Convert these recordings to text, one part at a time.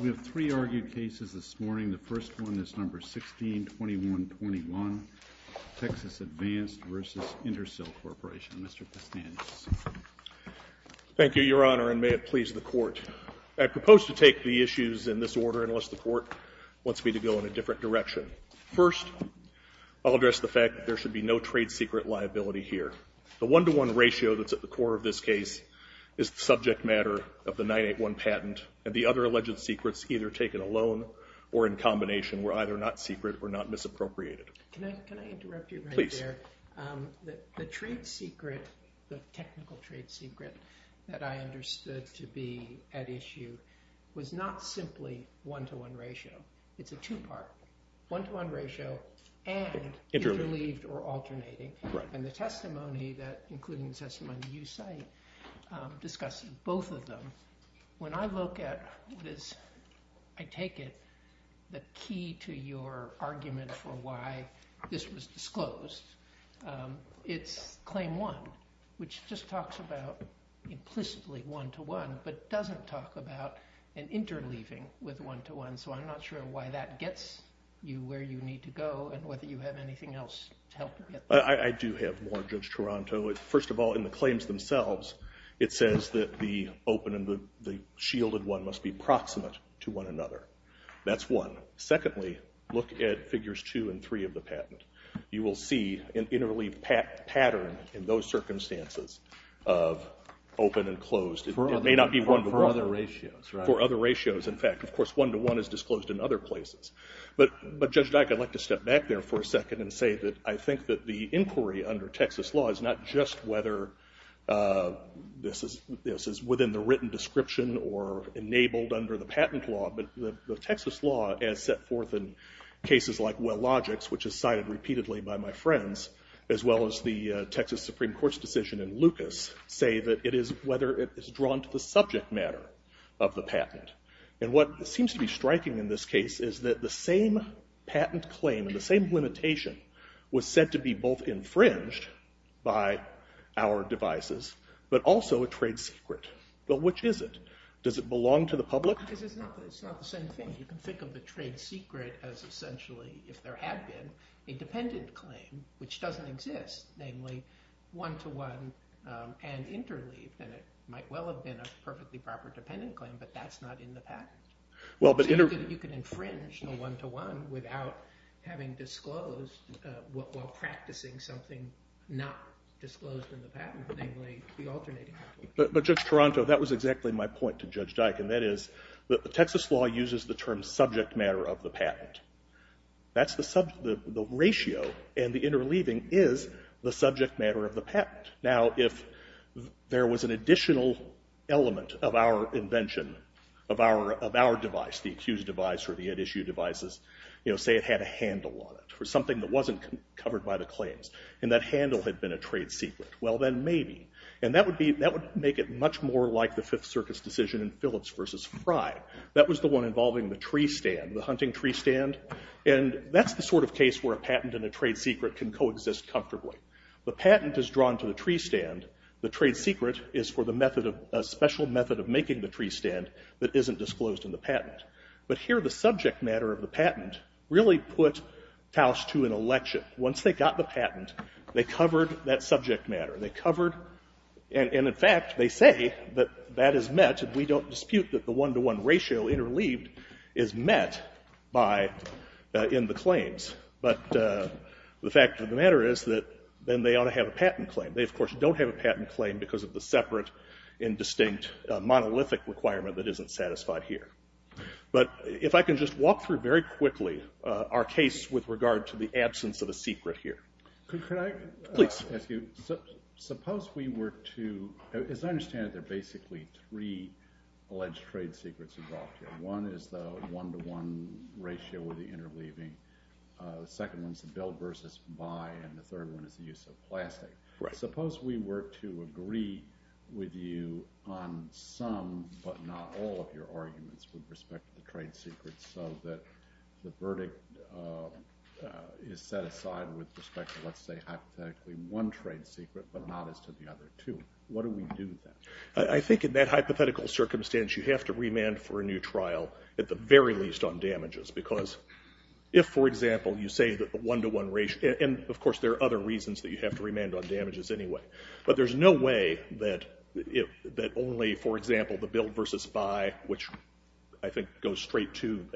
We have three argued cases this morning. The first one is number 162121, Texas Advanced v. Intersil Corporation. Mr. Pistanis. Thank you, Your Honor, and may it please the Court. I propose to take the issues in this order unless the Court wants me to go in a different direction. First, I'll address the fact that there should be no trade secret liability here. The one-to-one ratio that's at the core of this case is the subject matter of the 981 patent, and the other alleged secrets either taken alone or in combination were either not secret or not misappropriated. Can I interrupt you right there? Please. The trade secret, the technical trade secret, that I understood to be at issue was not simply one-to-one ratio. It's a two-part, one-to-one ratio and interleaved or alternating, and the testimony that, including the testimony you cite, discusses both of them. When I look at what is, I take it, the key to your argument for why this was disclosed, it's claim one, which just talks about implicitly one-to-one but doesn't talk about an interleaving with one-to-one, so I'm not sure why that gets you where you need to go and whether you have anything else to help you get there. I do have more, Judge Toronto. First of all, in the claims themselves, it says that the open and the shielded one must be proximate to one another. That's one. Secondly, look at figures two and three of the patent. You will see an interleaved pattern in those circumstances of open and closed. It may not be one-to-one. For other ratios, right. For other ratios, in fact. Of course, one-to-one is disclosed in other places, but Judge Dyck, I'd like to step back there for a second and say that I think that the inquiry under Texas law is not just whether this is within the written description or enabled under the patent law, but the Texas law, as set forth in cases like Wellogics, which is cited repeatedly by my friends, as well as the Texas Supreme Court's decision in Lucas, say that it is whether it is drawn to the subject matter of the patent. What seems to be striking in this case is that the same patent claim, the same limitation, was said to be both infringed by our devices, but also a trade secret. Which is it? Does it belong to the public? It's not the same thing. You can think of the trade secret as essentially, if there had been, a dependent claim, which doesn't exist. Namely, one-to-one and interleaved. And it might well have been a perfectly proper dependent claim, but that's not in the patent. So you can infringe the one-to-one without having disclosed, while practicing something not disclosed in the patent, namely the alternating patent. But Judge Toronto, that was exactly my point to Judge Dyck, and that is that the Texas law uses the term subject matter of the patent. That's the ratio, and the interleaving is the subject matter of the patent. Now, if there was an additional element of our invention, of our device, the accused device or the at issue devices, say it had a handle on it, or something that wasn't covered by the claims, and that handle had been a trade secret, well then maybe. And that would make it much more like the Fifth Circuit's decision in Phillips v. Fry. That was the one involving the tree stand, the hunting tree stand. And that's the sort of case where a patent and a trade secret can coexist comfortably. The patent is drawn to the tree stand. The trade secret is for the method of, a special method of making the tree stand that isn't disclosed in the patent. But here the subject matter of the patent really put Tausch to an election. Once they got the patent, they covered that subject matter. They covered, and in fact, they say that that is met, and we don't dispute that the one-to-one ratio interleaved is met by, in the claims. But the fact of the matter is that then they ought to have a patent claim. They of course don't have a patent claim because of the separate and distinct monolithic requirement that isn't satisfied here. But if I can just walk through very quickly our case with regard to the absence of a secret here. Could I ask you, suppose we were to, as I understand it, there are basically three alleged trade secrets involved here. One is the one-to-one ratio with the interleaving. The second one is the bill versus buy, and the third one is the use of plastic. Suppose we were to agree with you on some, but not all of your arguments with respect to the trade secrets so that the verdict is set aside with respect to, let's say hypothetically, one trade secret, but not as to the other two. What do we do then? I think in that hypothetical circumstance, you have to remand for a new trial, at the very least on damages. Because if, for example, you say that the one-to-one ratio, and of course there are other reasons that you have to remand on damages anyway. But there's no a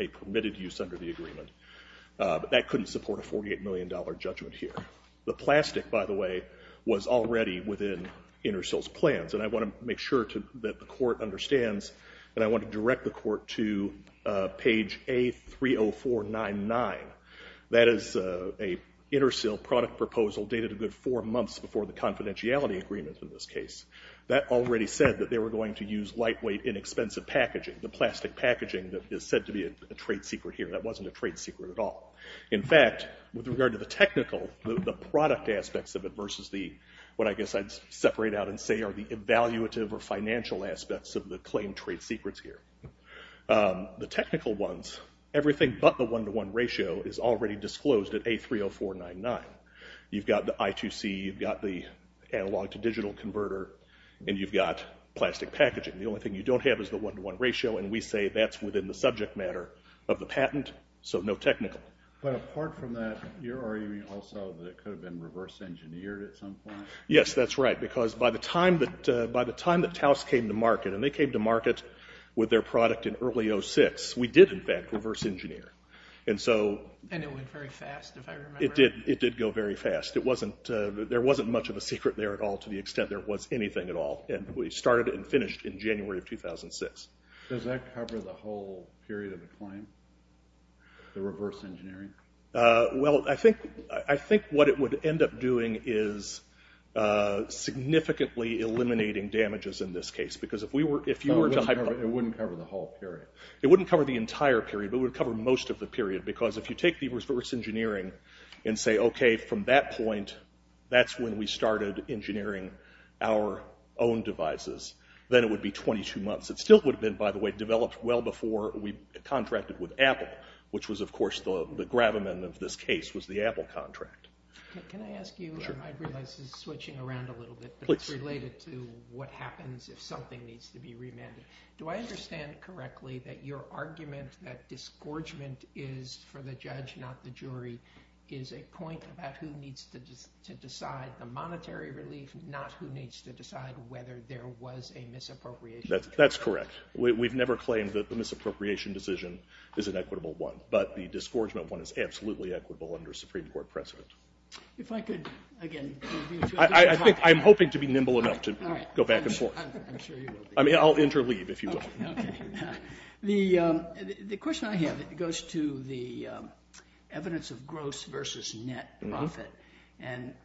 permitted use under the agreement. That couldn't support a $48 million judgment here. The plastic, by the way, was already within Intersil's plans, and I want to make sure that the court understands, and I want to direct the court to page A30499. That is an Intersil product proposal dated a good four months before the confidentiality agreements in this case. That already said that they were going to use lightweight, inexpensive packaging, the plastic packaging that is said to be a trade secret here. That wasn't a trade secret at all. In fact, with regard to the technical, the product aspects of it versus the, what I guess I'd separate out and say are the evaluative or financial aspects of the claimed trade secrets here. The technical ones, everything but the one-to-one ratio is already disclosed at A30499. You've got the I2C, you've got the analog-to-digital converter, and you've got plastic packaging. The only thing you don't have is the one-to-one ratio, and we say that's within the subject matter of the patent, so no technical. But apart from that, you're arguing also that it could have been reverse engineered at some point? Yes, that's right, because by the time that Taos came to market, and they came to market with their product in early 06, we did in fact reverse engineer. And it went very fast, if I remember. It did go very fast. There wasn't much of a secret there at all to the extent there was anything at all, and we started and finished in January of 2006. Does that cover the whole period of the claim, the reverse engineering? Well, I think what it would end up doing is significantly eliminating damages in this case, because if you were to... It wouldn't cover the whole period. It wouldn't cover the entire period, but it would cover most of the period, because if you take the reverse engineering and say, okay, from that point, that's when we started engineering our own devices, then it would be 22 months. It still would have been, by the way, developed well before we contracted with Apple, which was, of course, the gravamen of this case was the Apple contract. Can I ask you, I realize this is switching around a little bit, but it's related to what happens if something needs to be remanded. Do I understand correctly that your argument that disgorgement is, for the judge, not the jury, is a point about who needs to decide the monetary relief, not who needs to decide whether there was a misappropriation? That's correct. We've never claimed that the misappropriation decision is an equitable one, but the disgorgement one is absolutely equitable under Supreme Court precedent. If I could, again... I'm hoping to be nimble enough to go back and forth. I'm sure you will be. I'll interleave, if you will. The question I have goes to the evidence of gross versus net profit.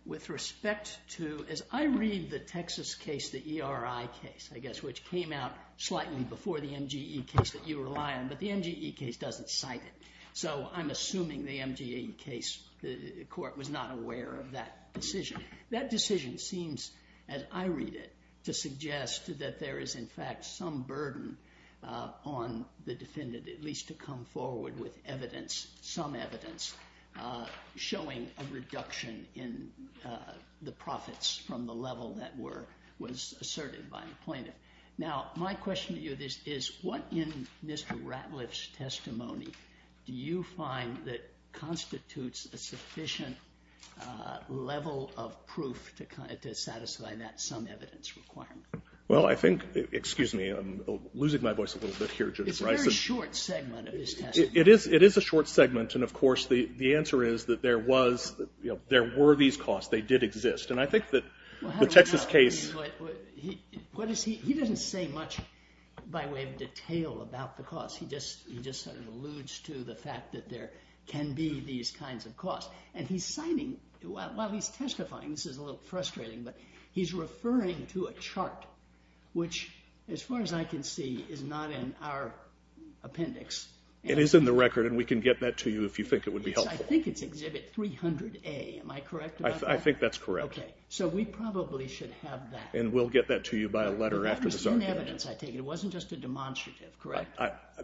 With respect to, as I read the Texas case, the ERI case, I guess, which came out slightly before the MGE case that you rely on, but the MGE case doesn't cite it, so I'm assuming the MGE case, the court was not aware of that decision. That decision seems, as I read it, to suggest that there is, in fact, some burden on the defendant, at least to come forward with evidence, some evidence, showing a reduction in the profits from the level that was asserted by the plaintiff. Now, my question to you is, what in Mr. Ratliff's testimony do you find that constitutes a sufficient level of proof to satisfy that sum evidence requirement? Well, I think... Excuse me. I'm losing my voice a little bit here, Judge Brice. It's a very short segment of his testimony. It is a short segment, and of course, the answer is that there were these costs. And I think that the Texas case... Well, how do I know? I mean, what is he... He doesn't say much, by way of detail, about the costs. He just sort of alludes to the fact that there can be these kinds of costs. And he's citing... Well, he's testifying. This is a little frustrating, but he's referring to a chart, which, as far as I can see, is not in our appendix. It is in the record, and we can get that to you if you think it would be helpful. I think it's Exhibit 300A. Am I correct about that? I think that's correct. Okay. So we probably should have that. And we'll get that to you by a letter after this argument. But that was in evidence, I take it. It wasn't just a demonstrative, correct?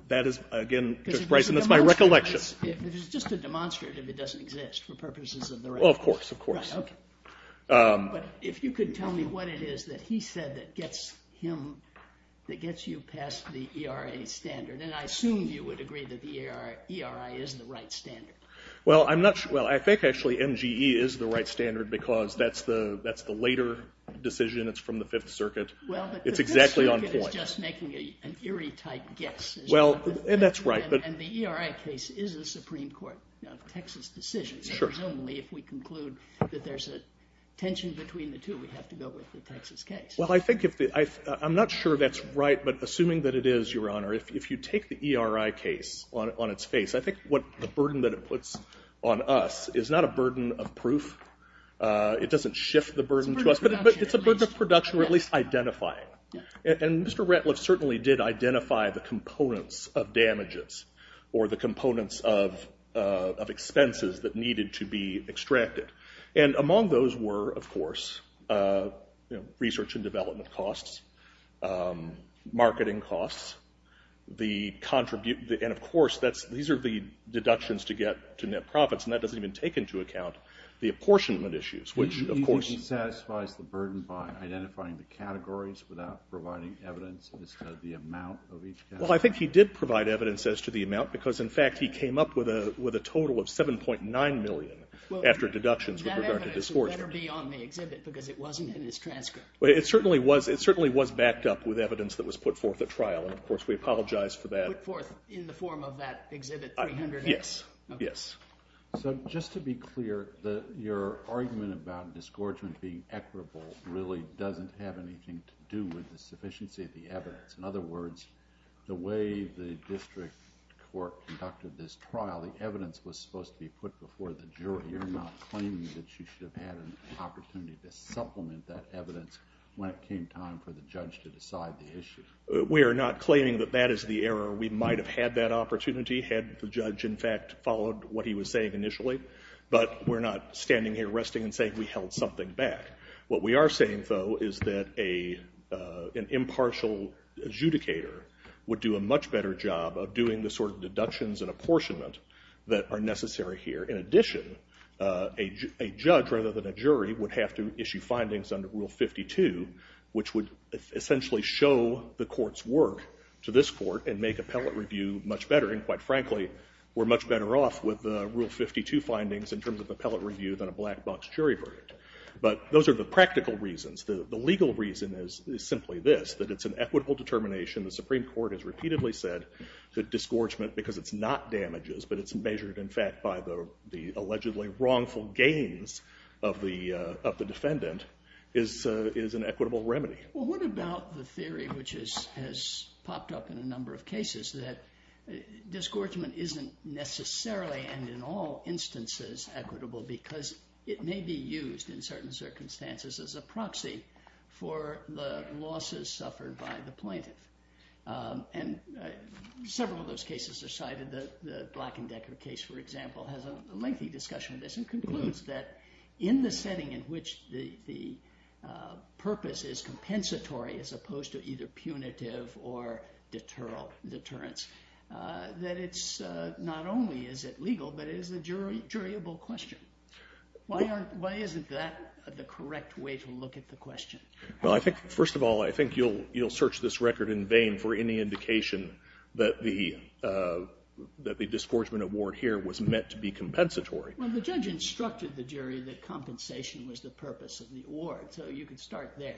That is, again, Judge Brice, and that's my recollection. It was just a demonstrative. It doesn't exist, for purposes of the record. Well, of course, of course. Right, okay. But if you could tell me what it is that he said that gets you past the ERA standard. And I assume you would agree that the ERA is the right standard. Well, I think, actually, MGE is the right standard, because that's the later decision. It's from the Fifth Circuit. It's exactly on point. Well, but the Fifth Circuit is just making an eerie-type guess. Well, and that's right. And the ERA case is a Supreme Court, Texas decision. Presumably, if we conclude that there's a tension between the two, we have to go with the Texas case. Well, I'm not sure that's right, but assuming that it is, Your Honor, if you take the ERA case on its face, I think the burden that it puts on us is not a burden of proof. It doesn't shift the burden to us, but it's a burden of production, or at least identifying. And Mr. Ratliff certainly did identify the components of damages, or the components of expenses that needed to be extracted. And among those were, of course, research and development costs, marketing costs, and, of course, these are the deductions to get to net profits, and that doesn't even take into account the apportionment issues, which, of course... Well, I think he did provide evidence as to the amount, because, in fact, he came up with a total of $7.9 million after deductions with regard to disgorgement. Well, that evidence would better be on the exhibit, because it wasn't in his transcript. It certainly was backed up with evidence that was put forth at trial, and, of course, we apologize for that. Put forth in the form of that Exhibit 300X? Yes. So, just to be clear, your argument about disgorgement being equitable really doesn't have anything to do with the sufficiency of the evidence. In other words, the way the district court conducted this trial, the evidence was supposed to be put before the jury. You're not claiming that you should have had an opportunity to supplement that evidence when it came time for the judge to decide the issue? We are not claiming that that is the error. We might have had that opportunity had the judge, in fact, followed what he was saying initially, but we're not standing here resting and saying we held something back. What we are saying, though, is that an impartial adjudicator would do a much better job of doing the sort of deductions and apportionment that are necessary here. In addition, a judge, rather than a jury, would have to issue findings under Rule 52, which would essentially show the court's work to this court and make appellate review much better. And, quite frankly, we're much better off with Rule 52 findings in terms of appellate review than a black box jury verdict. But those are the practical reasons. The legal reason is simply this, that it's an equitable determination. The Supreme Court has repeatedly said that disgorgement, because it's not damages, but it's measured, in fact, by the allegedly wrongful gains of the defendant, is an equitable remedy. Well, what about the theory which has popped up in a number of cases that disgorgement isn't necessarily, and in all instances, equitable because it may be used, in certain circumstances, as a proxy for the losses suffered by the plaintiff. And several of those cases are cited. The Black & Decker case, for example, has a lengthy discussion of this and concludes that in the setting in which the purpose is compensatory as opposed to either punitive or deterrents, that it's not only is it legal, but it is a juryable question. Why isn't that the correct way to look at the question? Well, first of all, I think you'll search this record in vain for any indication that the disgorgement award here was meant to be compensatory. Well, the judge instructed the jury that compensation was the purpose of the award. So you can start there.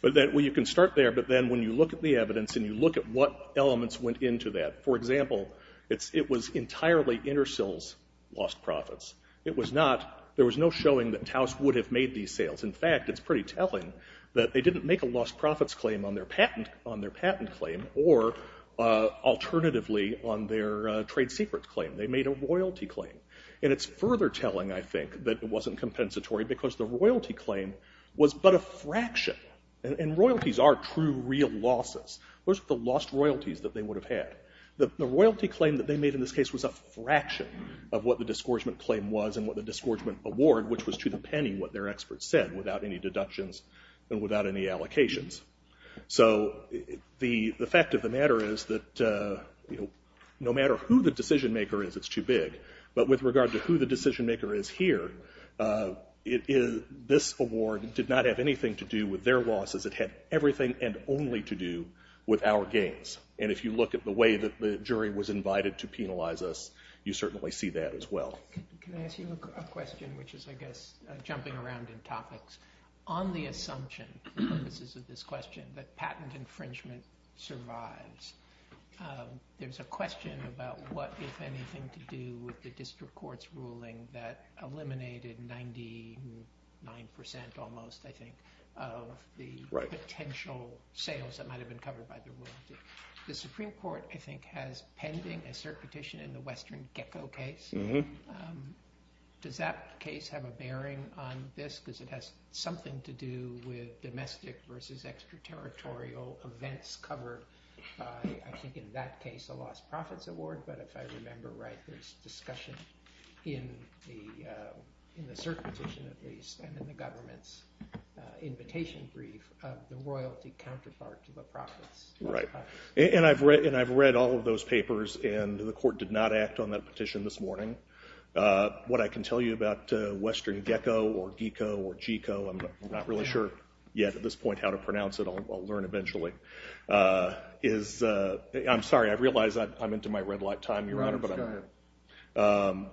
Well, you can start there, but then when you look at the evidence and you look at what elements went into that, for example, it was entirely Intersil's lost profits. It was not, there was no showing that Taos would have made these sales. In fact, it's pretty telling that they didn't make a lost profits claim on their patent claim or alternatively on their trade secrets claim. They made a royalty claim. And it's further telling, I think, that it wasn't compensatory because the royalty claim was but a fraction. And royalties are true, real losses. Those are the lost royalties that they would have had. The royalty claim that they made in this case was a fraction of what the disgorgement claim was and what the disgorgement award, which was to the penny what their experts said without any deductions and without any allocations. So the fact of the matter is that, you know, no matter who the decision maker is, it's too big. But with regard to who the decision maker is here, this award did not have anything to do with their losses. It had everything and only to do with our gains. And if you look at the way that the jury was invited to penalize us, you certainly see that as well. Can I ask you a question which is, I guess, jumping around in topics? On the assumption, the purposes of this question, that patent infringement survives, there's a question about what, if anything, to do with the district court's ruling that eliminated 99 percent almost, I think, of the potential sales that might have been covered by the royalty. The Supreme Court, I think, has pending a cert petition on the Western Gecko case. Does that case have a bearing on this? Because it has something to do with domestic versus extraterritorial events covered by, I think, in that case, a lost profits award. But if I remember right, there's discussion in the cert petition, at least, and in the government's invitation brief of the royalty counterpart to the profits. Right. And I've read all of those papers, and the court did not act on that petition this morning. What I can tell you about Western Gecko or Gecko or Geeko, I'm not really sure yet, at this point, how to pronounce it. I'll learn eventually. I'm sorry, I realize I'm into my red light time, Your Honor, but I'm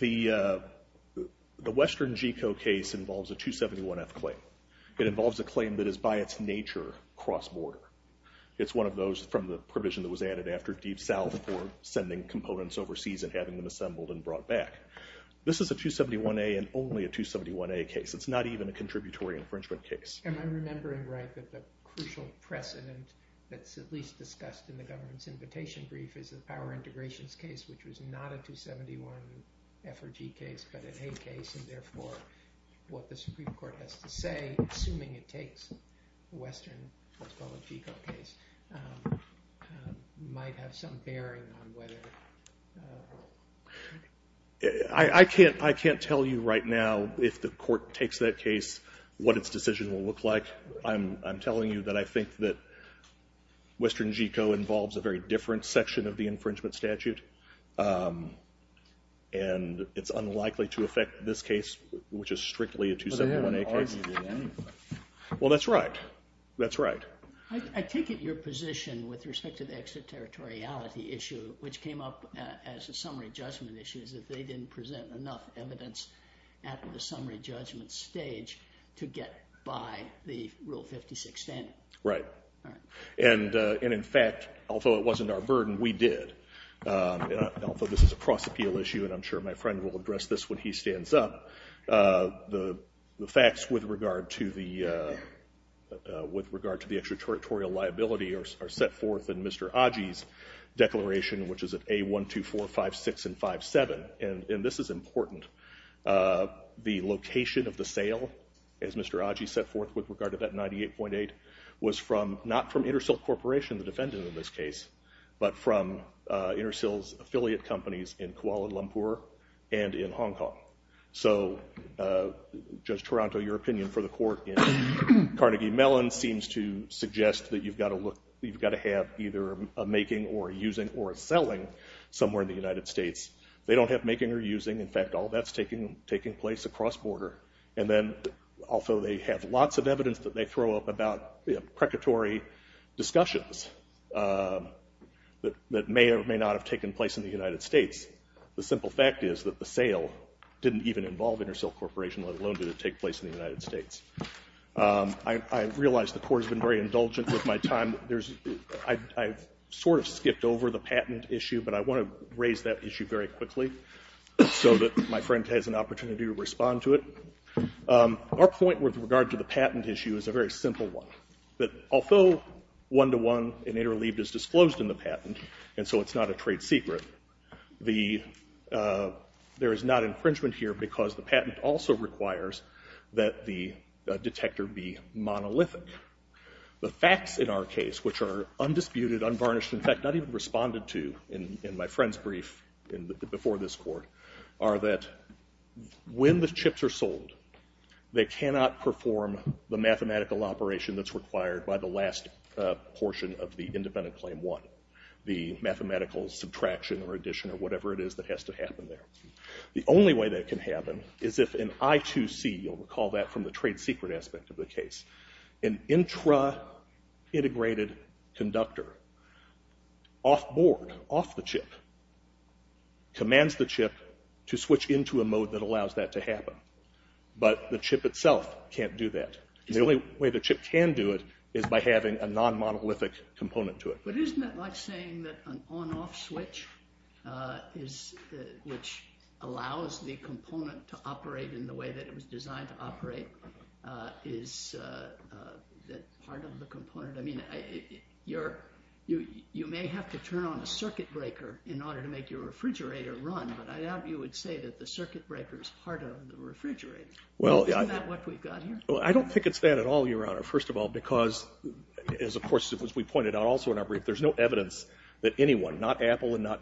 here. The Western Geeko case involves a 271F claim. It involves a claim that is, by its nature, cross-border. It's one of those from the provision that was added after Deep South for sending components overseas and having them assembled and brought back. This is a 271A and only a 271A case. It's not even a contributory infringement case. Am I remembering right that the crucial precedent that's at least discussed in the government's invitation brief is the power integrations case, which was not a 271F or G case, but an A case, and therefore, what the Supreme Court has to say, assuming it takes the Western, let's call it, Geeko case, might have some bearing on whether... I can't tell you right now, if the court takes that case, what its decision will look like. I'm telling you that I think that Western Geeko involves a very different section of the infringement statute, and it's unlikely to affect this case, which is strictly a 271A case. Well, they haven't argued with anything. Well, that's right. That's right. I take it your position with respect to the extraterritoriality issue, which came up as a summary judgment issue, is that they didn't present enough evidence at the summary judgment stage to get by the Rule 56 standard. Right. And in fact, although it wasn't our burden, we did. Although this is a cross-appeal issue, and I'm sure my friend will address this when he stands up, the facts with regard to the extraterritorial liability are set forth in Mr. Aji's declaration, which is at A12456 and 57. And this is important. The location of the sale, as Mr. Aji set forth with regard to that 98.8, was not from Intersil Corporation, the defendant in this case, but from Intersil's affiliate companies in Kuala Lumpur and in Hong Kong. So, Judge Toronto, your opinion for the court in Carnegie Mellon seems to suggest that you've got to have either a making or a using or a selling somewhere in the United States. They don't have making or using. In fact, all that's taking place across border. And then, although they have lots of evidence that they throw up about, you know, precatory discussions that may or may not have taken place in the United States, the simple fact is that the sale didn't even involve Intersil Corporation, let alone did it take place in the United States. I realize the court has been very indulgent with my time. I've sort of skipped over the patent issue, but I want to raise that issue very quickly so that my friend has an opportunity to respond to it. Our point with regard to the patent issue is a very simple one, that although one-to-one and interleaved is disclosed in the patent, and so it's not a trade secret, there is not infringement here because the patent also requires that the detector be monolithic. The facts in our case, which are undisputed, unvarnished, in fact, not even responded to in my friend's brief before this court, are that when the chips are sold, they cannot perform the mathematical operation that's required by the last portion of the independent claim one, the mathematical subtraction or addition or whatever it is that has to happen there. The only way that can happen is if an I2C, you'll recall that from the trade secret aspect of the case, an intra-integrated conductor off-board, off the chip, commands the chip to switch into a mode that allows that to happen. But the chip itself can't do that. The only way the chip can do it is by having a non-monolithic component to it. But isn't that like saying that an on-off switch which allows the component to operate in the way that it was designed to operate is part of the component? I mean, you may have to turn on a circuit breaker in order to make your refrigerator run, but I doubt you would say that the circuit breaker is part of the refrigerator. Isn't that what we've got here? I don't think it's that at all, Your Honor, first of all because, as we pointed out also in our brief, there's no evidence that anyone,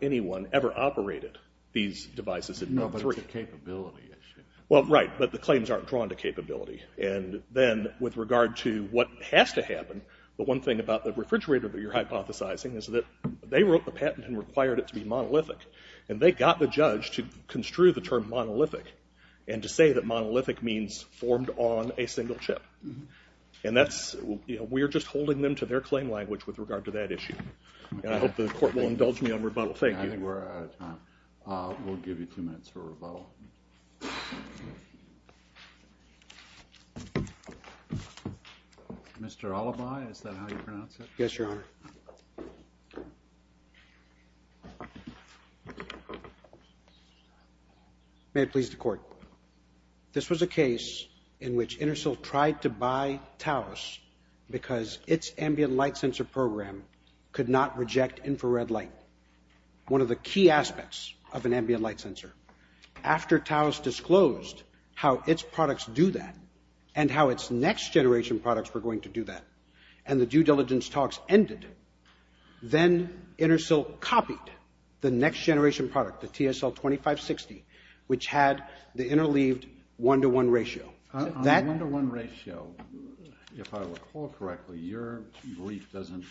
anyone has operated these devices. No, but it's a capability issue. Well, right, but the claims aren't drawn to capability. And then with regard to what has to happen, the one thing about the refrigerator that you're hypothesizing is that they wrote the patent and required it to be monolithic. And they got the judge to construe the term monolithic and to say that monolithic means formed on a single chip. And that's, you know, we're just holding them to their claim language with regard to that issue. And I hope the court will indulge me on rebuttal. We'll give you two minutes for rebuttal. Mr. Alibi, is that how you pronounce it? Yes, Your Honor. May it please the court. This was a case in which Intersil tried to buy Taos because its ambient light sensor program could not reject infrared light. One of the key aspects of an ambient light sensor. After Taos disclosed how its products do that and how its next generation products were going to do that and the due diligence talks ended, then Intersil copied the next generation product, the TSL2560, which had the interleaved one-to-one ratio. On the one-to-one ratio, if I recall correctly, your brief doesn't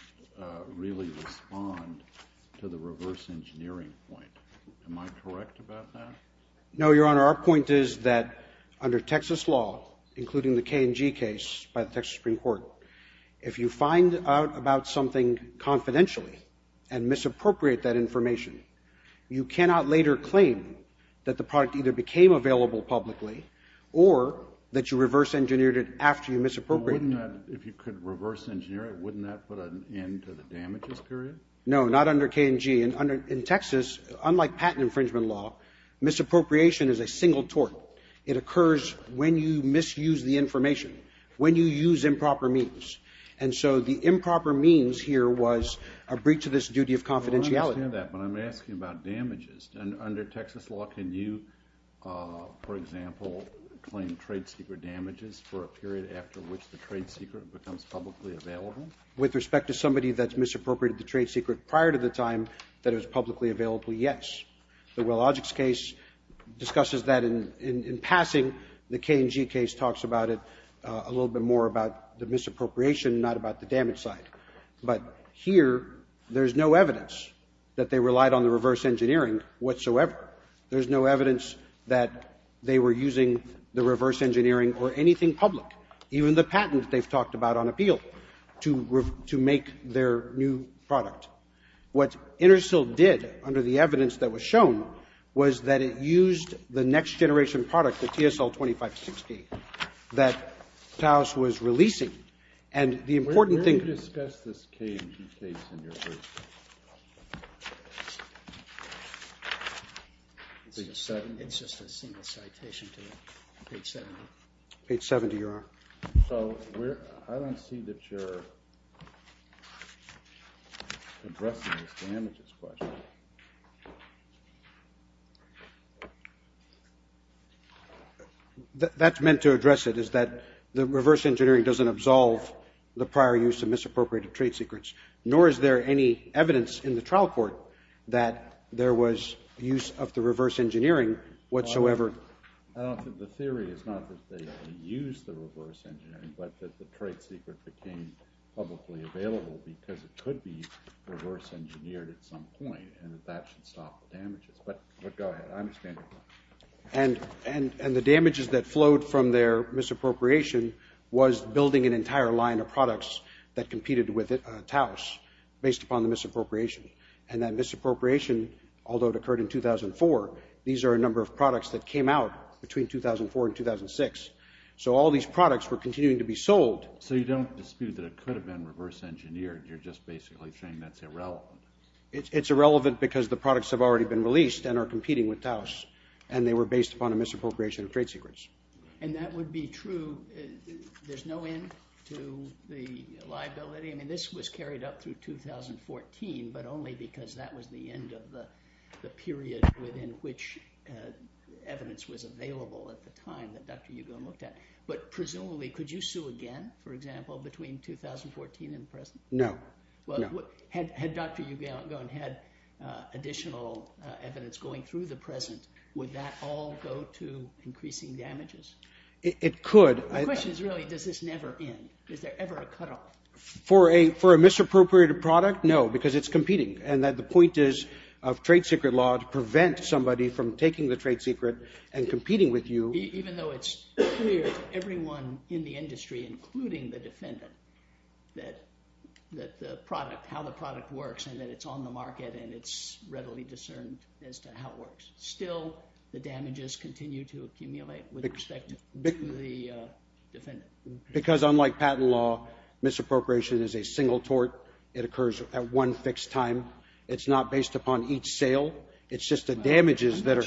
really respond to the reverse engineering point. Am I correct about that? No, Your Honor. Our point is that under Texas law, including the K&G case by the Texas Supreme Court, if you find out about something confidentially and misappropriate that information, you cannot later claim that the product either became available publicly or that you reverse engineered it after you misappropriated it. If you could reverse engineer it, wouldn't that put an end to the damages period? No, not under K&G. In Texas, unlike patent infringement law, misappropriation is a single tort. It occurs when you misuse the information, when you use improper means. And so the improper means here was a breach of this duty of confidentiality. I understand that, but I'm asking about damages. Under Texas law, can you, for example, claim trade secret damages for a period after which the trade secret becomes publicly available? With respect to somebody that's misappropriated a trade secret prior to the time that it was publicly available, yes. The Willogics case discusses that in passing. The K&G case talks about it a little bit more about the misappropriation, not about the damage side. But here, there's no evidence that they relied on the reverse engineering whatsoever. There's no evidence that they were using the reverse engineering or anything public, even the patent they've talked about on appeal to make their new product. What Intersil did, under the evidence that was shown, was that it used the next generation product, the TSL-2560, that Taos was releasing. And the important thing... Where do you discuss this K&G case in your work? It's just a single citation to page 70. Page 70, Your Honor. So I don't see that you're... addressing this damages question. That's meant to address it, is that the reverse engineering doesn't absolve the prior use of misappropriated trade secrets. Nor is there any evidence in the trial court that there was use of the reverse engineering whatsoever. I don't think the theory is not that they used the reverse engineering, but that the trade secret became publicly available because it could be reverse engineered at some point and that that should stop the damages. But go ahead, I understand your point. And the damages that flowed from their misappropriation was building an entire line of products that competed with Taos based upon the misappropriation. And that misappropriation, although it occurred in 2004, that came out between 2004 and 2006. So all these products were continuing to be sold. You're just basically saying that's irrelevant. It's irrelevant because the products have already been released and are competing with Taos and they were based upon a misappropriation of trade secrets. And that would be true. There's no end to the liability. I mean, this was carried up through 2014, but only because that was the end of the period within which evidence was available at the time Had Dr. Ugalin had additional evidence going through the present, would that all go to increasing damages? The question is really, does this never end? Is there ever a cutoff? For a misappropriated product, no, because it's competing. And the point is of trade secret law to prevent somebody from taking the trade secret and competing with you. Even though it's clear to everyone in the industry, including the defendant, that the product, how the product works and that it's on the market and it's readily discerned as to how it works. Still, the damages continue to accumulate with respect to the defendant. Because unlike patent law, misappropriation is a single tort. It occurs at one fixed time. It's not based upon each sale. It's just the damages that are...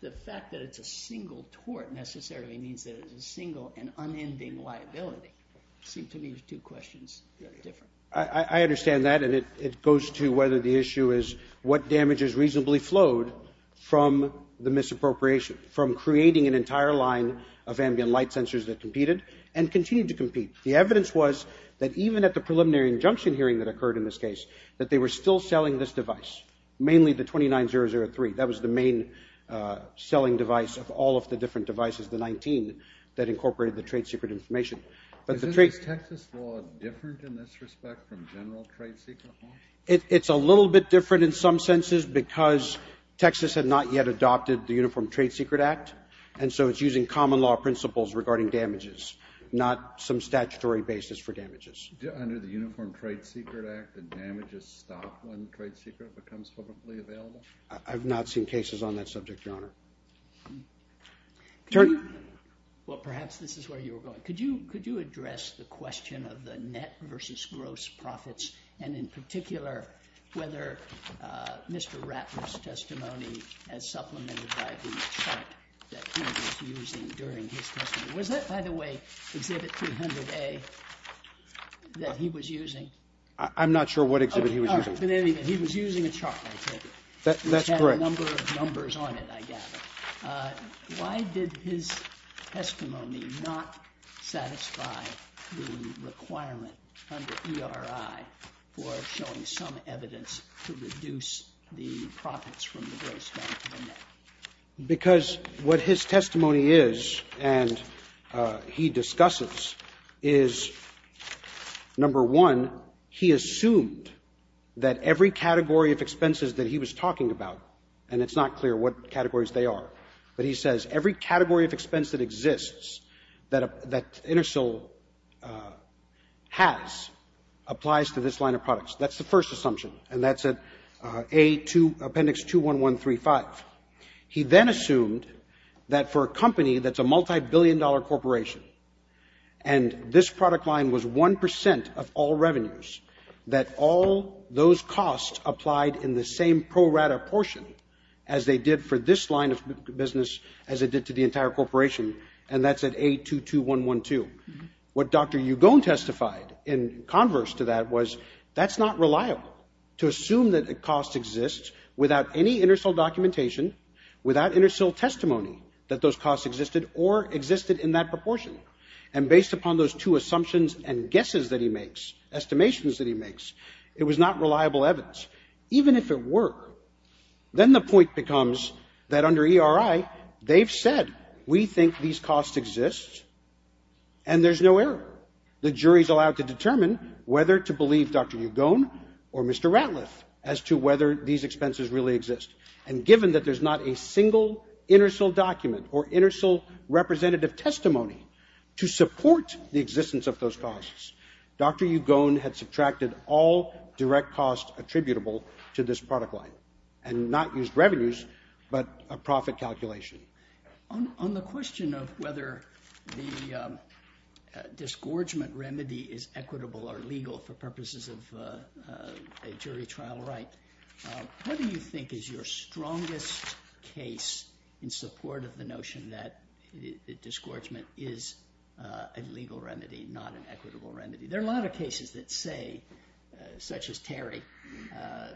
The fact that it's a single tort necessarily means that it's a single and unending liability. Seems to me these two questions are different. I understand that and it goes to whether the issue is what damages reasonably flowed from the misappropriation, from creating an entire line of ambient light sensors that competed and continue to compete. The evidence was that even at the preliminary injunction hearing that occurred in this case, that they were still selling this device, mainly the 29003. That was the main selling device of all of the different devices, the 19 that incorporated the trade secret information. But the trade... Is Texas law different in this respect from general trade secret law? It's a little bit different in some senses because Texas had not yet adopted the Uniform Trade Secret Act and so it's using common law principles regarding damages, not some statutory basis for damages. Under the Uniform Trade Secret Act, the damages stop when trade secret becomes publicly available? I've not seen cases on that subject, Your Honor. Well, perhaps this is where you were going. Could you address the question of the net versus gross profits and in particular whether Mr. Ratner's testimony as supplemented by the chart that he was using during his testimony. Was that, by the way, Exhibit 300A that he was using? I'm not sure what exhibit he was using. But anyway, he was using a chart, I take it. That's correct. It had a number of numbers on it, I gather. Why did his testimony not satisfy the requirement under ERI for showing some evidence to reduce the profits from the gross down to the net? Because what his testimony is and he discusses is, number one, he assumed that every category of expenses that he was talking about and it's not clear what categories they are, but he says every category of expense that exists that Intersil has applies to this line of products. That's the first assumption and that's Appendix 21135. He then assumed that for a company that's a multi-billion dollar corporation and this product line was one percent of all revenues that all those costs applied in the same pro rata portion as they did for this line of business as they did to the entire corporation and that's at A22112. What Dr. Ugone testified in converse to that was that's not reliable to assume that a cost exists without any Intersil documentation, without Intersil testimony that those costs existed or existed in that proportion and based upon those two assumptions and guesses that he makes, estimations that he makes, it was not reliable evidence. Even if it were, then the point becomes that under ERI they've said we think these costs exist and there's no error. The jury's allowed to determine whether to believe Dr. Ugone or Mr. Ratliff as to whether these expenses really exist and given that there's not a single Intersil document or Intersil representative testimony to support the existence of those costs, Dr. Ugone had subtracted all direct costs attributable to this product line and not used revenues but a profit calculation. On the question of whether the disgorgement remedy is equitable or legal for purposes of a jury trial right, what do you think is your strongest case in support of the notion that disgorgement is a legal remedy not an equitable remedy? There are a lot of cases that say such as Terry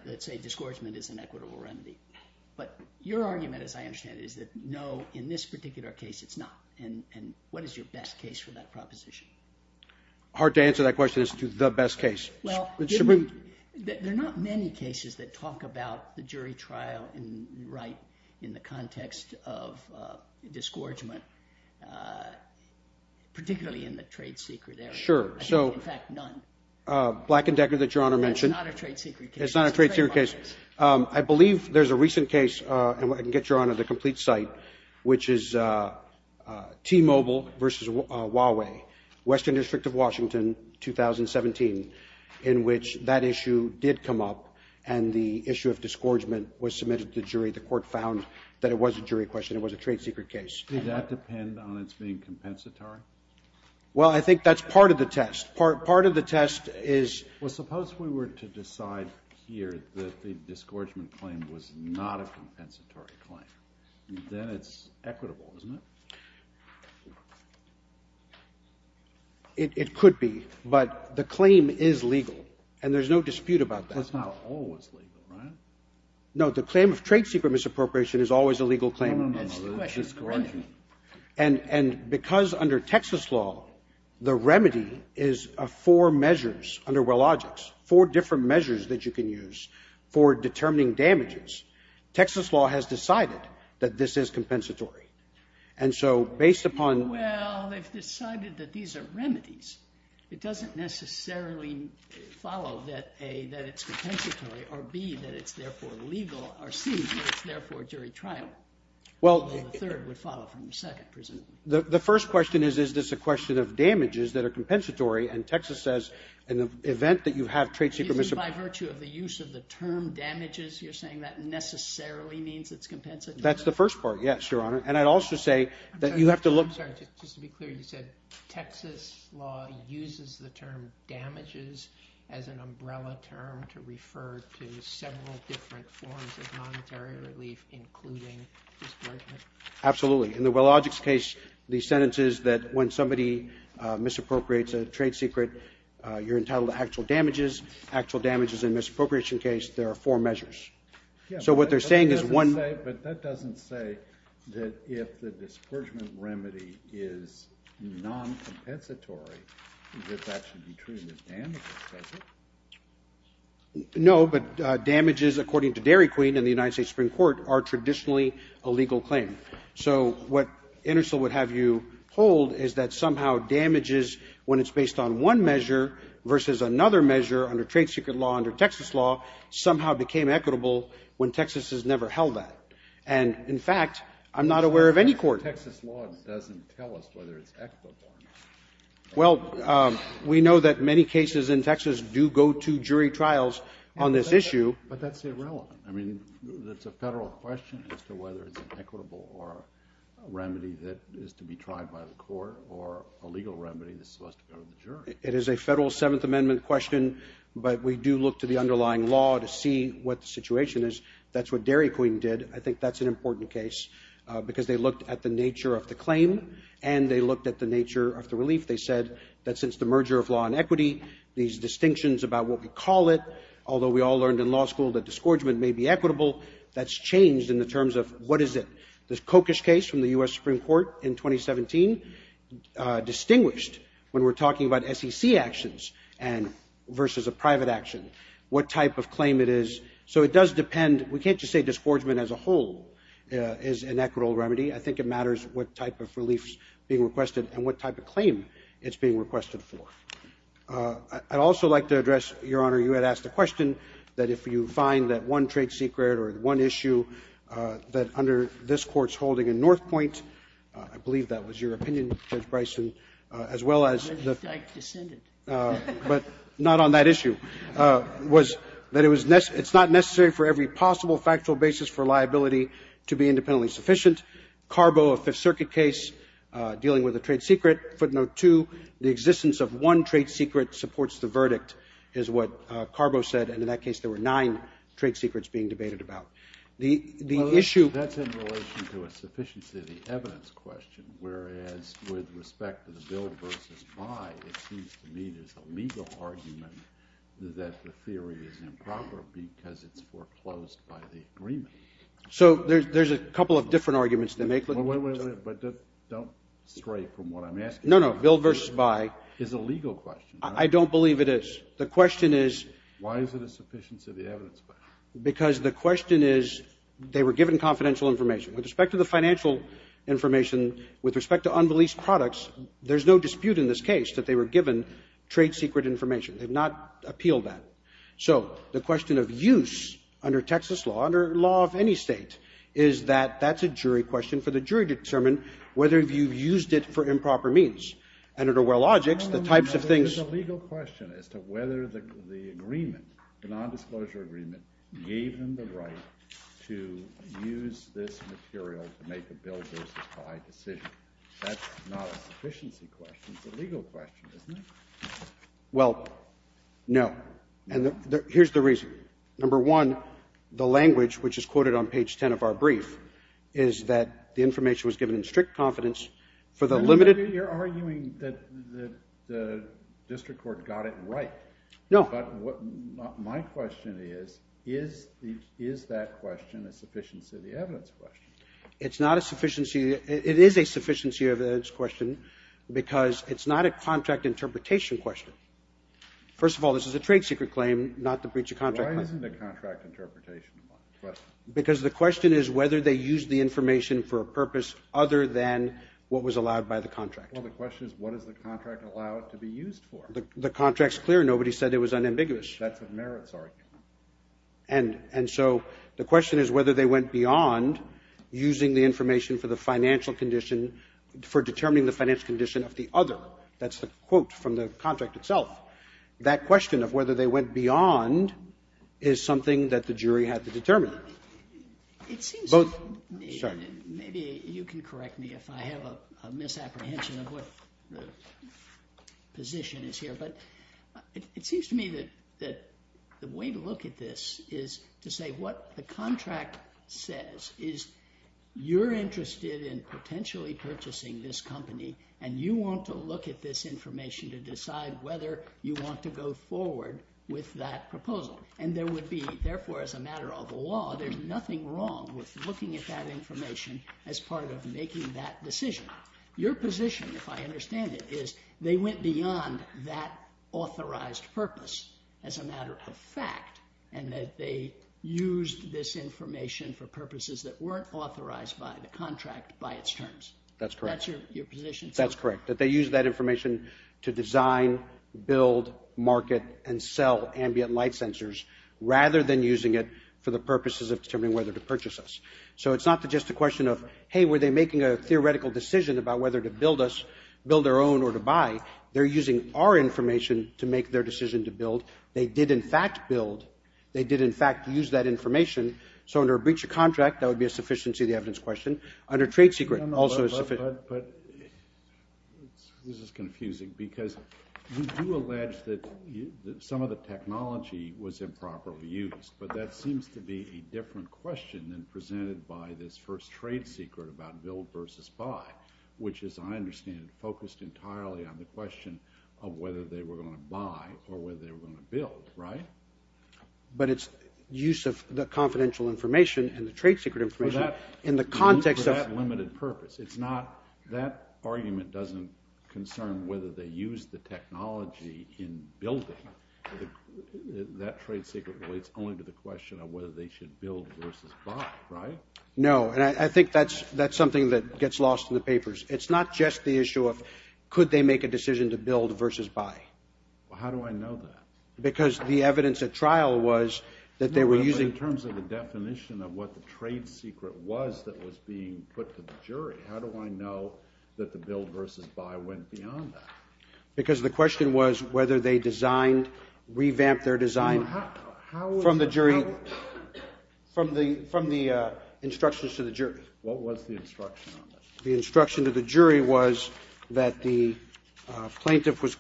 that say disgorgement is an equitable remedy but your argument as I understand it is that no in this particular case it's not and what is your best case for that proposition? Hard to answer that question as to the best case. There are not many cases that talk about the jury trial right in the context of disgorgement particularly in the trade secret area. I think in fact none. It's not a trade secret case. It's not a trade secret case. I believe there's a recent case and I can get your honor the complete site which is T-Mobile versus Huawei Western District of Washington 2017 in which that issue did come up and the issue of disgorgement was submitted to the jury the court found that it was a jury question it was a trade secret case. Did that depend on it being compensatory? Well I think that's part of the test part of the test is Well suppose we were to decide here that the disgorgement claim was not a compensatory claim then it's equitable isn't it? It could be but the claim is legal and there's no dispute about that. That's not always legal right? No the claim of trade secret misappropriation is always a legal claim. No, no, no. It's disgorgement. And because under Texas law the remedy is four measures under wellogics four different measures that you can use for determining damages Texas law has decided that this is compensatory and so based upon Well they've decided that these are remedies it doesn't necessarily follow that A that it's compensatory or B that it's therefore legal or C that it's therefore jury trial Well the third would follow from the second presumably. The first question is is this a question of damages that are compensatory and Texas says in the event that you have trade secret misappropriation By virtue of the use of the term damages you're saying that necessarily means it's compensatory? That's the first part yes your honor and I'd also say that you have to look I'm sorry just to be clear you said Texas law uses the term damages as an umbrella term to refer to several different forms of monetary relief including discrimination Absolutely In the Wilogics case the sentence is that when somebody misappropriates a trade secret you're entitled to actual damages actual damages in a misappropriation case there are four measures So what they're saying is one But that doesn't say that if the discouragement remedy is non-compensatory that that should be treated as damages does it? No but damages according to Dairy Queen and the United States Supreme Court are traditionally a legal claim so what Intersil would have you hold is that somehow damages when it's based on one measure versus another measure under trade secret law under Texas law somehow became equitable when Texas has never held that and in fact I'm not aware of any court But Texas law doesn't tell us whether it's equitable Well we know that many cases in Texas do go to jury trials on this issue But that's irrelevant I mean that's a federal question as to whether it's an equitable or a remedy that is to be tried by the court or a legal remedy that's supposed to go to the jury It is a federal 7th Amendment question but we do look to the underlying law to see what the situation is That's what Dairy Queen did I think that's an important case because they looked at the nature of the claim and they looked at the nature of the relief They said that since the merger of law and equity these distinctions about what we call it although we all learned in law school that disgorgement may be equitable that's changed in the terms of what is it The Kokish case from the U.S. Supreme Court in 2017 distinguished when we're talking about SEC actions and versus a private action What type of claim it is So it does depend We can't just say disgorgement as a whole is an equitable remedy I think it matters what type of relief is being requested and what type of claim it's being requested for I'd also like to address Your Honor you had asked the question that if you find that one trade secret or one issue that under this Court's holding in Northpointe I believe that was your opinion Judge Bryson as well as the but not on that issue was that it was it's not necessary for every possible factual basis for liability to be independently sufficient Carbo a Fifth Circuit case dealing with a trade secret Footnote 2 the existence of one trade secret supports the verdict is what Carbo said and in that case there were nine trade secrets being debated about The issue That's in relation to a sufficiency of the evidence question whereas with respect to the bill versus by it seems to me there's a legal argument that the theory is improper because it's foreclosed by the agreement So there's a couple of different arguments they make Wait, wait, wait Don't stray from what I'm asking No, no Bill versus by is a legal question I don't believe it is The question is Why is it a sufficiency of the evidence question? Because the question is they were given confidential information With respect to the financial information with respect to unreleased products there's no dispute in this case that they were given trade secret information They've not appealed that So the question of use under Texas law under law of any state is that That's a jury question for the jury to determine whether you've used it for improper means And under well logics the types of things No, no, no It's a legal question as to whether the agreement the nondisclosure agreement gave them the right to use this material to make a bill versus by decision That's not a sufficiency question It's a legal question isn't it? Well No And here's the reason Number one the language which is quoted on page ten of our brief is that the information was given in strict confidence for the limited You're arguing that the district court got it right No But what my question is is is that question a sufficiency of the evidence question? It's not a sufficiency It is a sufficiency of the evidence question because it's not a contract interpretation question First of all this is a trade secret claim not the breach of contract Why isn't the contract interpretation of the question? Because the question is whether they used the information for a purpose other than what was allowed by the contract Well the question is what is the contract allowed to be used for? The contract's clear Nobody said it was unambiguous That's a merits argument And and so the question is whether they went beyond using the information for the financial condition for determining the financial condition of the other That's the quote from the contract itself That question of whether they went beyond is something that the jury had to determine Both Sorry Maybe you can correct me if I have a misapprehension of what the position is here but it seems to me that that the way to look at this is to say what the contract says is you're interested in potentially purchasing this company and you want to look at this information to decide whether you want to go forward with that proposal and there would be therefore as a matter of law there's nothing wrong with looking at that information as part of making that decision Your position if I understand it is they went beyond that authorized purpose as a matter of fact and that they used this information for purposes that weren't authorized by the contract by its terms That's correct That's your position That's correct That they used that information to design build market and sell ambient light sensors rather than using it for the purposes of determining whether to purchase us So it's not just a question of hey were they making a theoretical decision about whether to build us build their own or to buy They're using our information to make their decision to build They did in fact build They did in fact use that information So under a breach of contract that would be a sufficiency of the evidence question Under trade secret also a sufficient But this is confusing because you do allege that some of the technology was improperly used but that seems to be a different question than presented by this first trade secret about build versus buy which is I understand focused entirely on the question of whether they were going to buy or whether they were going to build right But it's use of the confidential information and the trade secret information in the context of limited purpose It's not that argument doesn't concern whether they use the technology in building That trade secret relates only to the question of whether they should build versus buy right No I think that's something that gets lost in the papers It's not just the issue of could they make a decision to build versus buy How do I know that? Because the evidence at trial was that they were using But in terms of the definition of what the trade secret was that was being put to the jury How do I know that the build versus buy went beyond that? Because the question was whether they designed revamped their design How from the jury from the instructions to the jury What was the instruction on that? The instruction to the jury was that the plaintiff was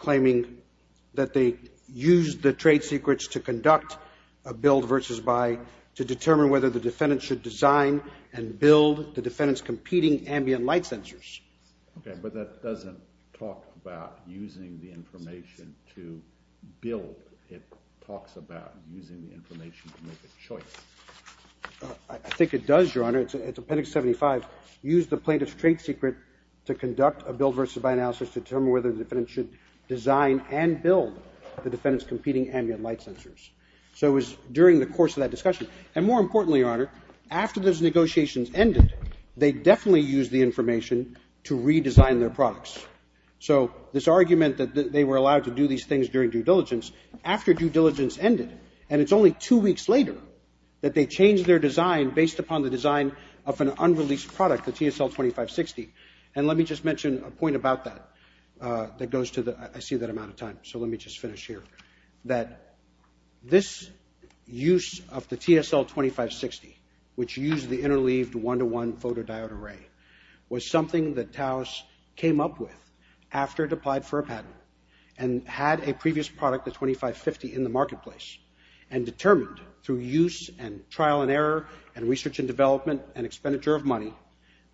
that they used the trade secrets to conduct a build versus buy to determine whether the defendant should design and build the defendant's competing ambient light sensors Okay But that doesn't talk about using the information to build It talks about using the information to make a choice I think it does Your Honor It's Appendix 75 Use the plaintiff's trade secret to conduct a build versus buy analysis to determine whether the defendant should design and build the defendant's competing ambient light sensors So it was during the course of that discussion And more importantly Your Honor after those negotiations ended they definitely used the information to redesign their products So this argument that they were allowed to do these things during due diligence after due diligence ended and it's only two weeks later that they changed their design based upon the design of an unreleased product the TSL 2560 And let me just mention a point about that that goes to the I see that I'm out of time So let me just finish here That this use of the TSL 2560 which used the interleaved one-to-one photodiode array was something came up with after it applied for a patent and had a previous product the 2550 in the marketplace and determined through use and trial and error and research and development and expenditure of money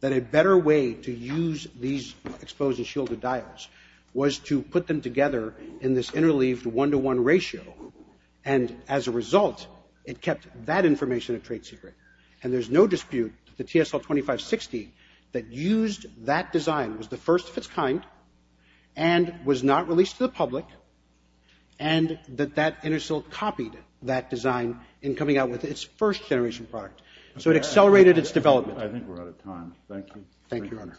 that a better way to use these exposed and shielded dials was to put them together in this interleaved one-to-one ratio and as a result it kept that information a trade secret and there's no dispute that the TSL 2560 that used that design was the first of its kind and was not released to the public and that that Intersil copied that design in coming out with its first generation product so it accelerated its development. I think we're out of time. Thank you. Thank you, Your Honor.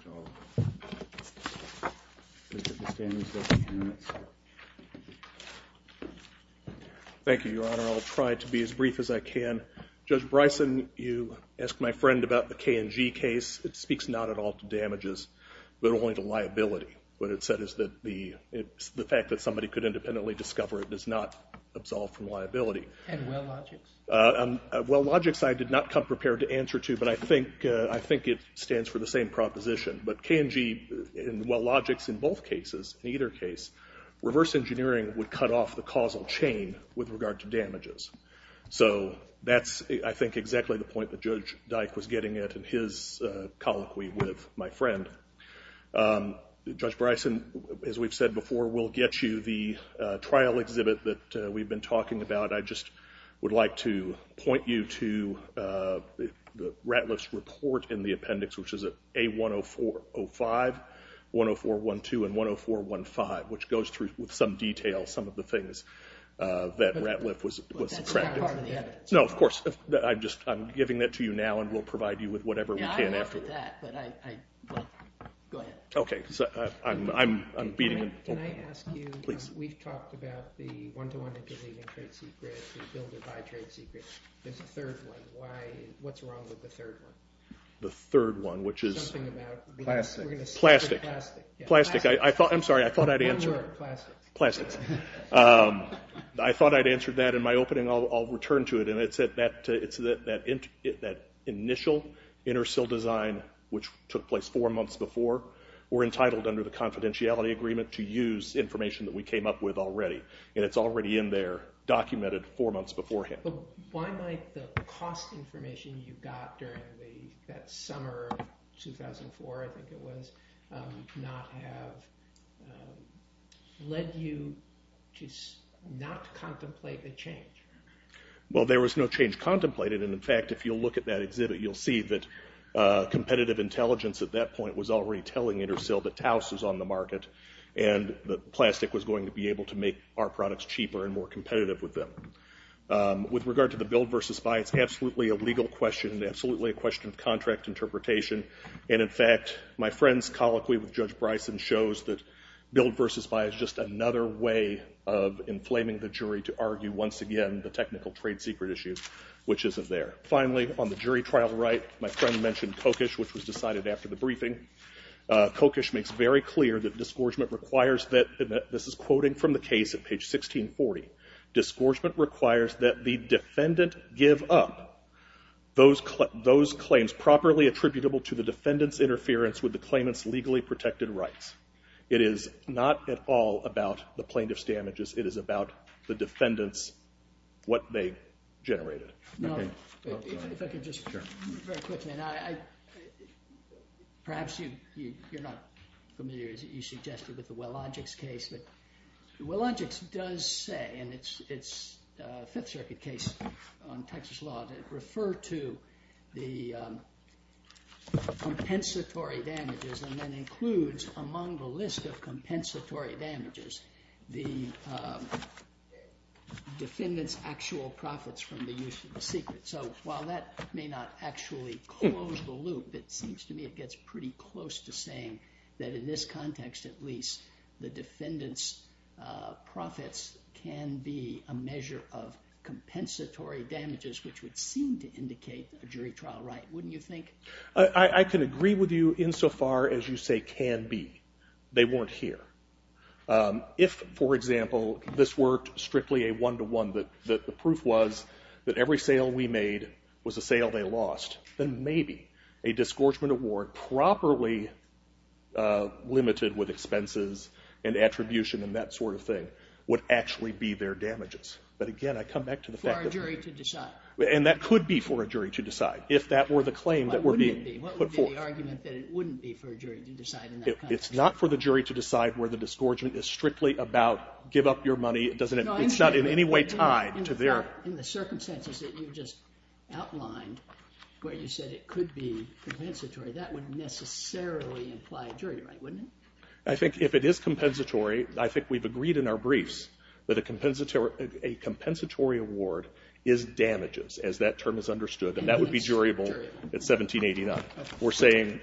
Thank you, Your Honor. I'll try to be as brief as I can. Judge Bryson, you asked my friend about the KNG case. It speaks not at all to damages but only to liability. What it said is that the the fact that somebody could independently discover it does not absolve from liability. And Wellogix? Wellogix I did not come prepared to answer to but I think I think it stands for the same proposition. But KNG and Wellogix in both cases in either case reverse engineering would cut off the causal chain with regard to damages. So that's I think exactly the point that Judge Dyke was getting at in his colloquy with my friend. Judge Bryson, as we've said before we'll get you the trial exhibit that we've been talking about. I just would like to point you to the Ratliff's report in the appendix which is A10405 A10412 and A10415 which goes through with some detail some of the things that Ratliff was attracted to. No of course I'm just I'm giving that to you now and we'll provide you with whatever we can after. Yeah I'm after that but I go ahead. Okay I'm beating Can I ask you we've talked about the one-to-one intervening trade secret the builder-by-trade secret there's a third one why what's wrong with the third one? The third one which is Something about plastic plastic plastic I'm sorry I thought I'd answered plastics I thought I'd answered that in my opening I'll return to it and it's that initial inter-sill design which took place four months before were entitled under the confidentiality agreement to use information that we came up with already and it's already in there documented four months beforehand But why might the cost information you got during the that summer 2004 I think it was not have led you to not contemplate the change? Well there was no change contemplated and in fact if you look at that exhibit you'll see that competitive intelligence at that point was already telling inter-sill that Taos is on the market and the plastic was going to be able to make our products cheaper and more competitive with them With regard to the build vs. buy it's absolutely a legal question absolutely a question of contract interpretation and in fact my friend's colloquy with Judge Bryson shows that build vs. buy is just another way of inflaming the jury to argue once again the technical trade secret issue which isn't there Finally on the jury trial right my friend mentioned kokish which was very clear that disgorgement requires that this is quoting from the case at page 1640 disgorgement requires that the defendant give up those claims properly attributable to the defendant's interference with the claimant's legally protected rights it is not at all about the plaintiff's damages it is about the defendant's what they generated Now if I could just very quickly I perhaps you're not familiar you suggested with the Wellogics case Wellogics does say and it's it's Fifth Circuit case on Texas law refer to the compensatory damages and then includes among the list of compensatory damages the defendant's actual profits from the use of the secret so while that may not actually close the loop it seems to me it gets pretty close to saying that in this context at least the defendant's profits can be a measure of compensatory damages which would seem to indicate a jury trial right wouldn't you think I can agree with you in so far as you say can be they weren't here if for example this worked strictly a one to one that the proof was that every sale we made was a sale they lost then maybe a disgorgement award properly limited with expenses and attribution and that sort of thing would actually be their damages but again I come back to the fact for a jury to decide and that could be for a jury to decide if that were the claim that were being put forth what would be the argument that it wouldn't be for a jury to decide in that context it's not for the jury to decide where the disgorgement is strictly about give up your money it's not in any way tied to their in the circumstances that you just outlined where you said it could be compensatory that wouldn't necessarily imply jury right wouldn't it I think if it is compensatory I think we've agreed in our briefs that a compensatory award is damages as that term is understood and that would be durable in 1789 we're saying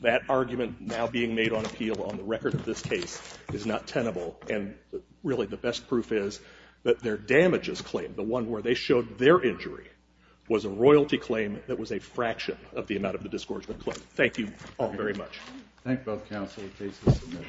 that argument now being made on appeal on the record of this case is not tenable and really the best proof is that their damages claim the one where they showed their injury was a royalty claim that was a fraction of the amount of the disgorgement claim thank you all very much thank both counsel the case is submitted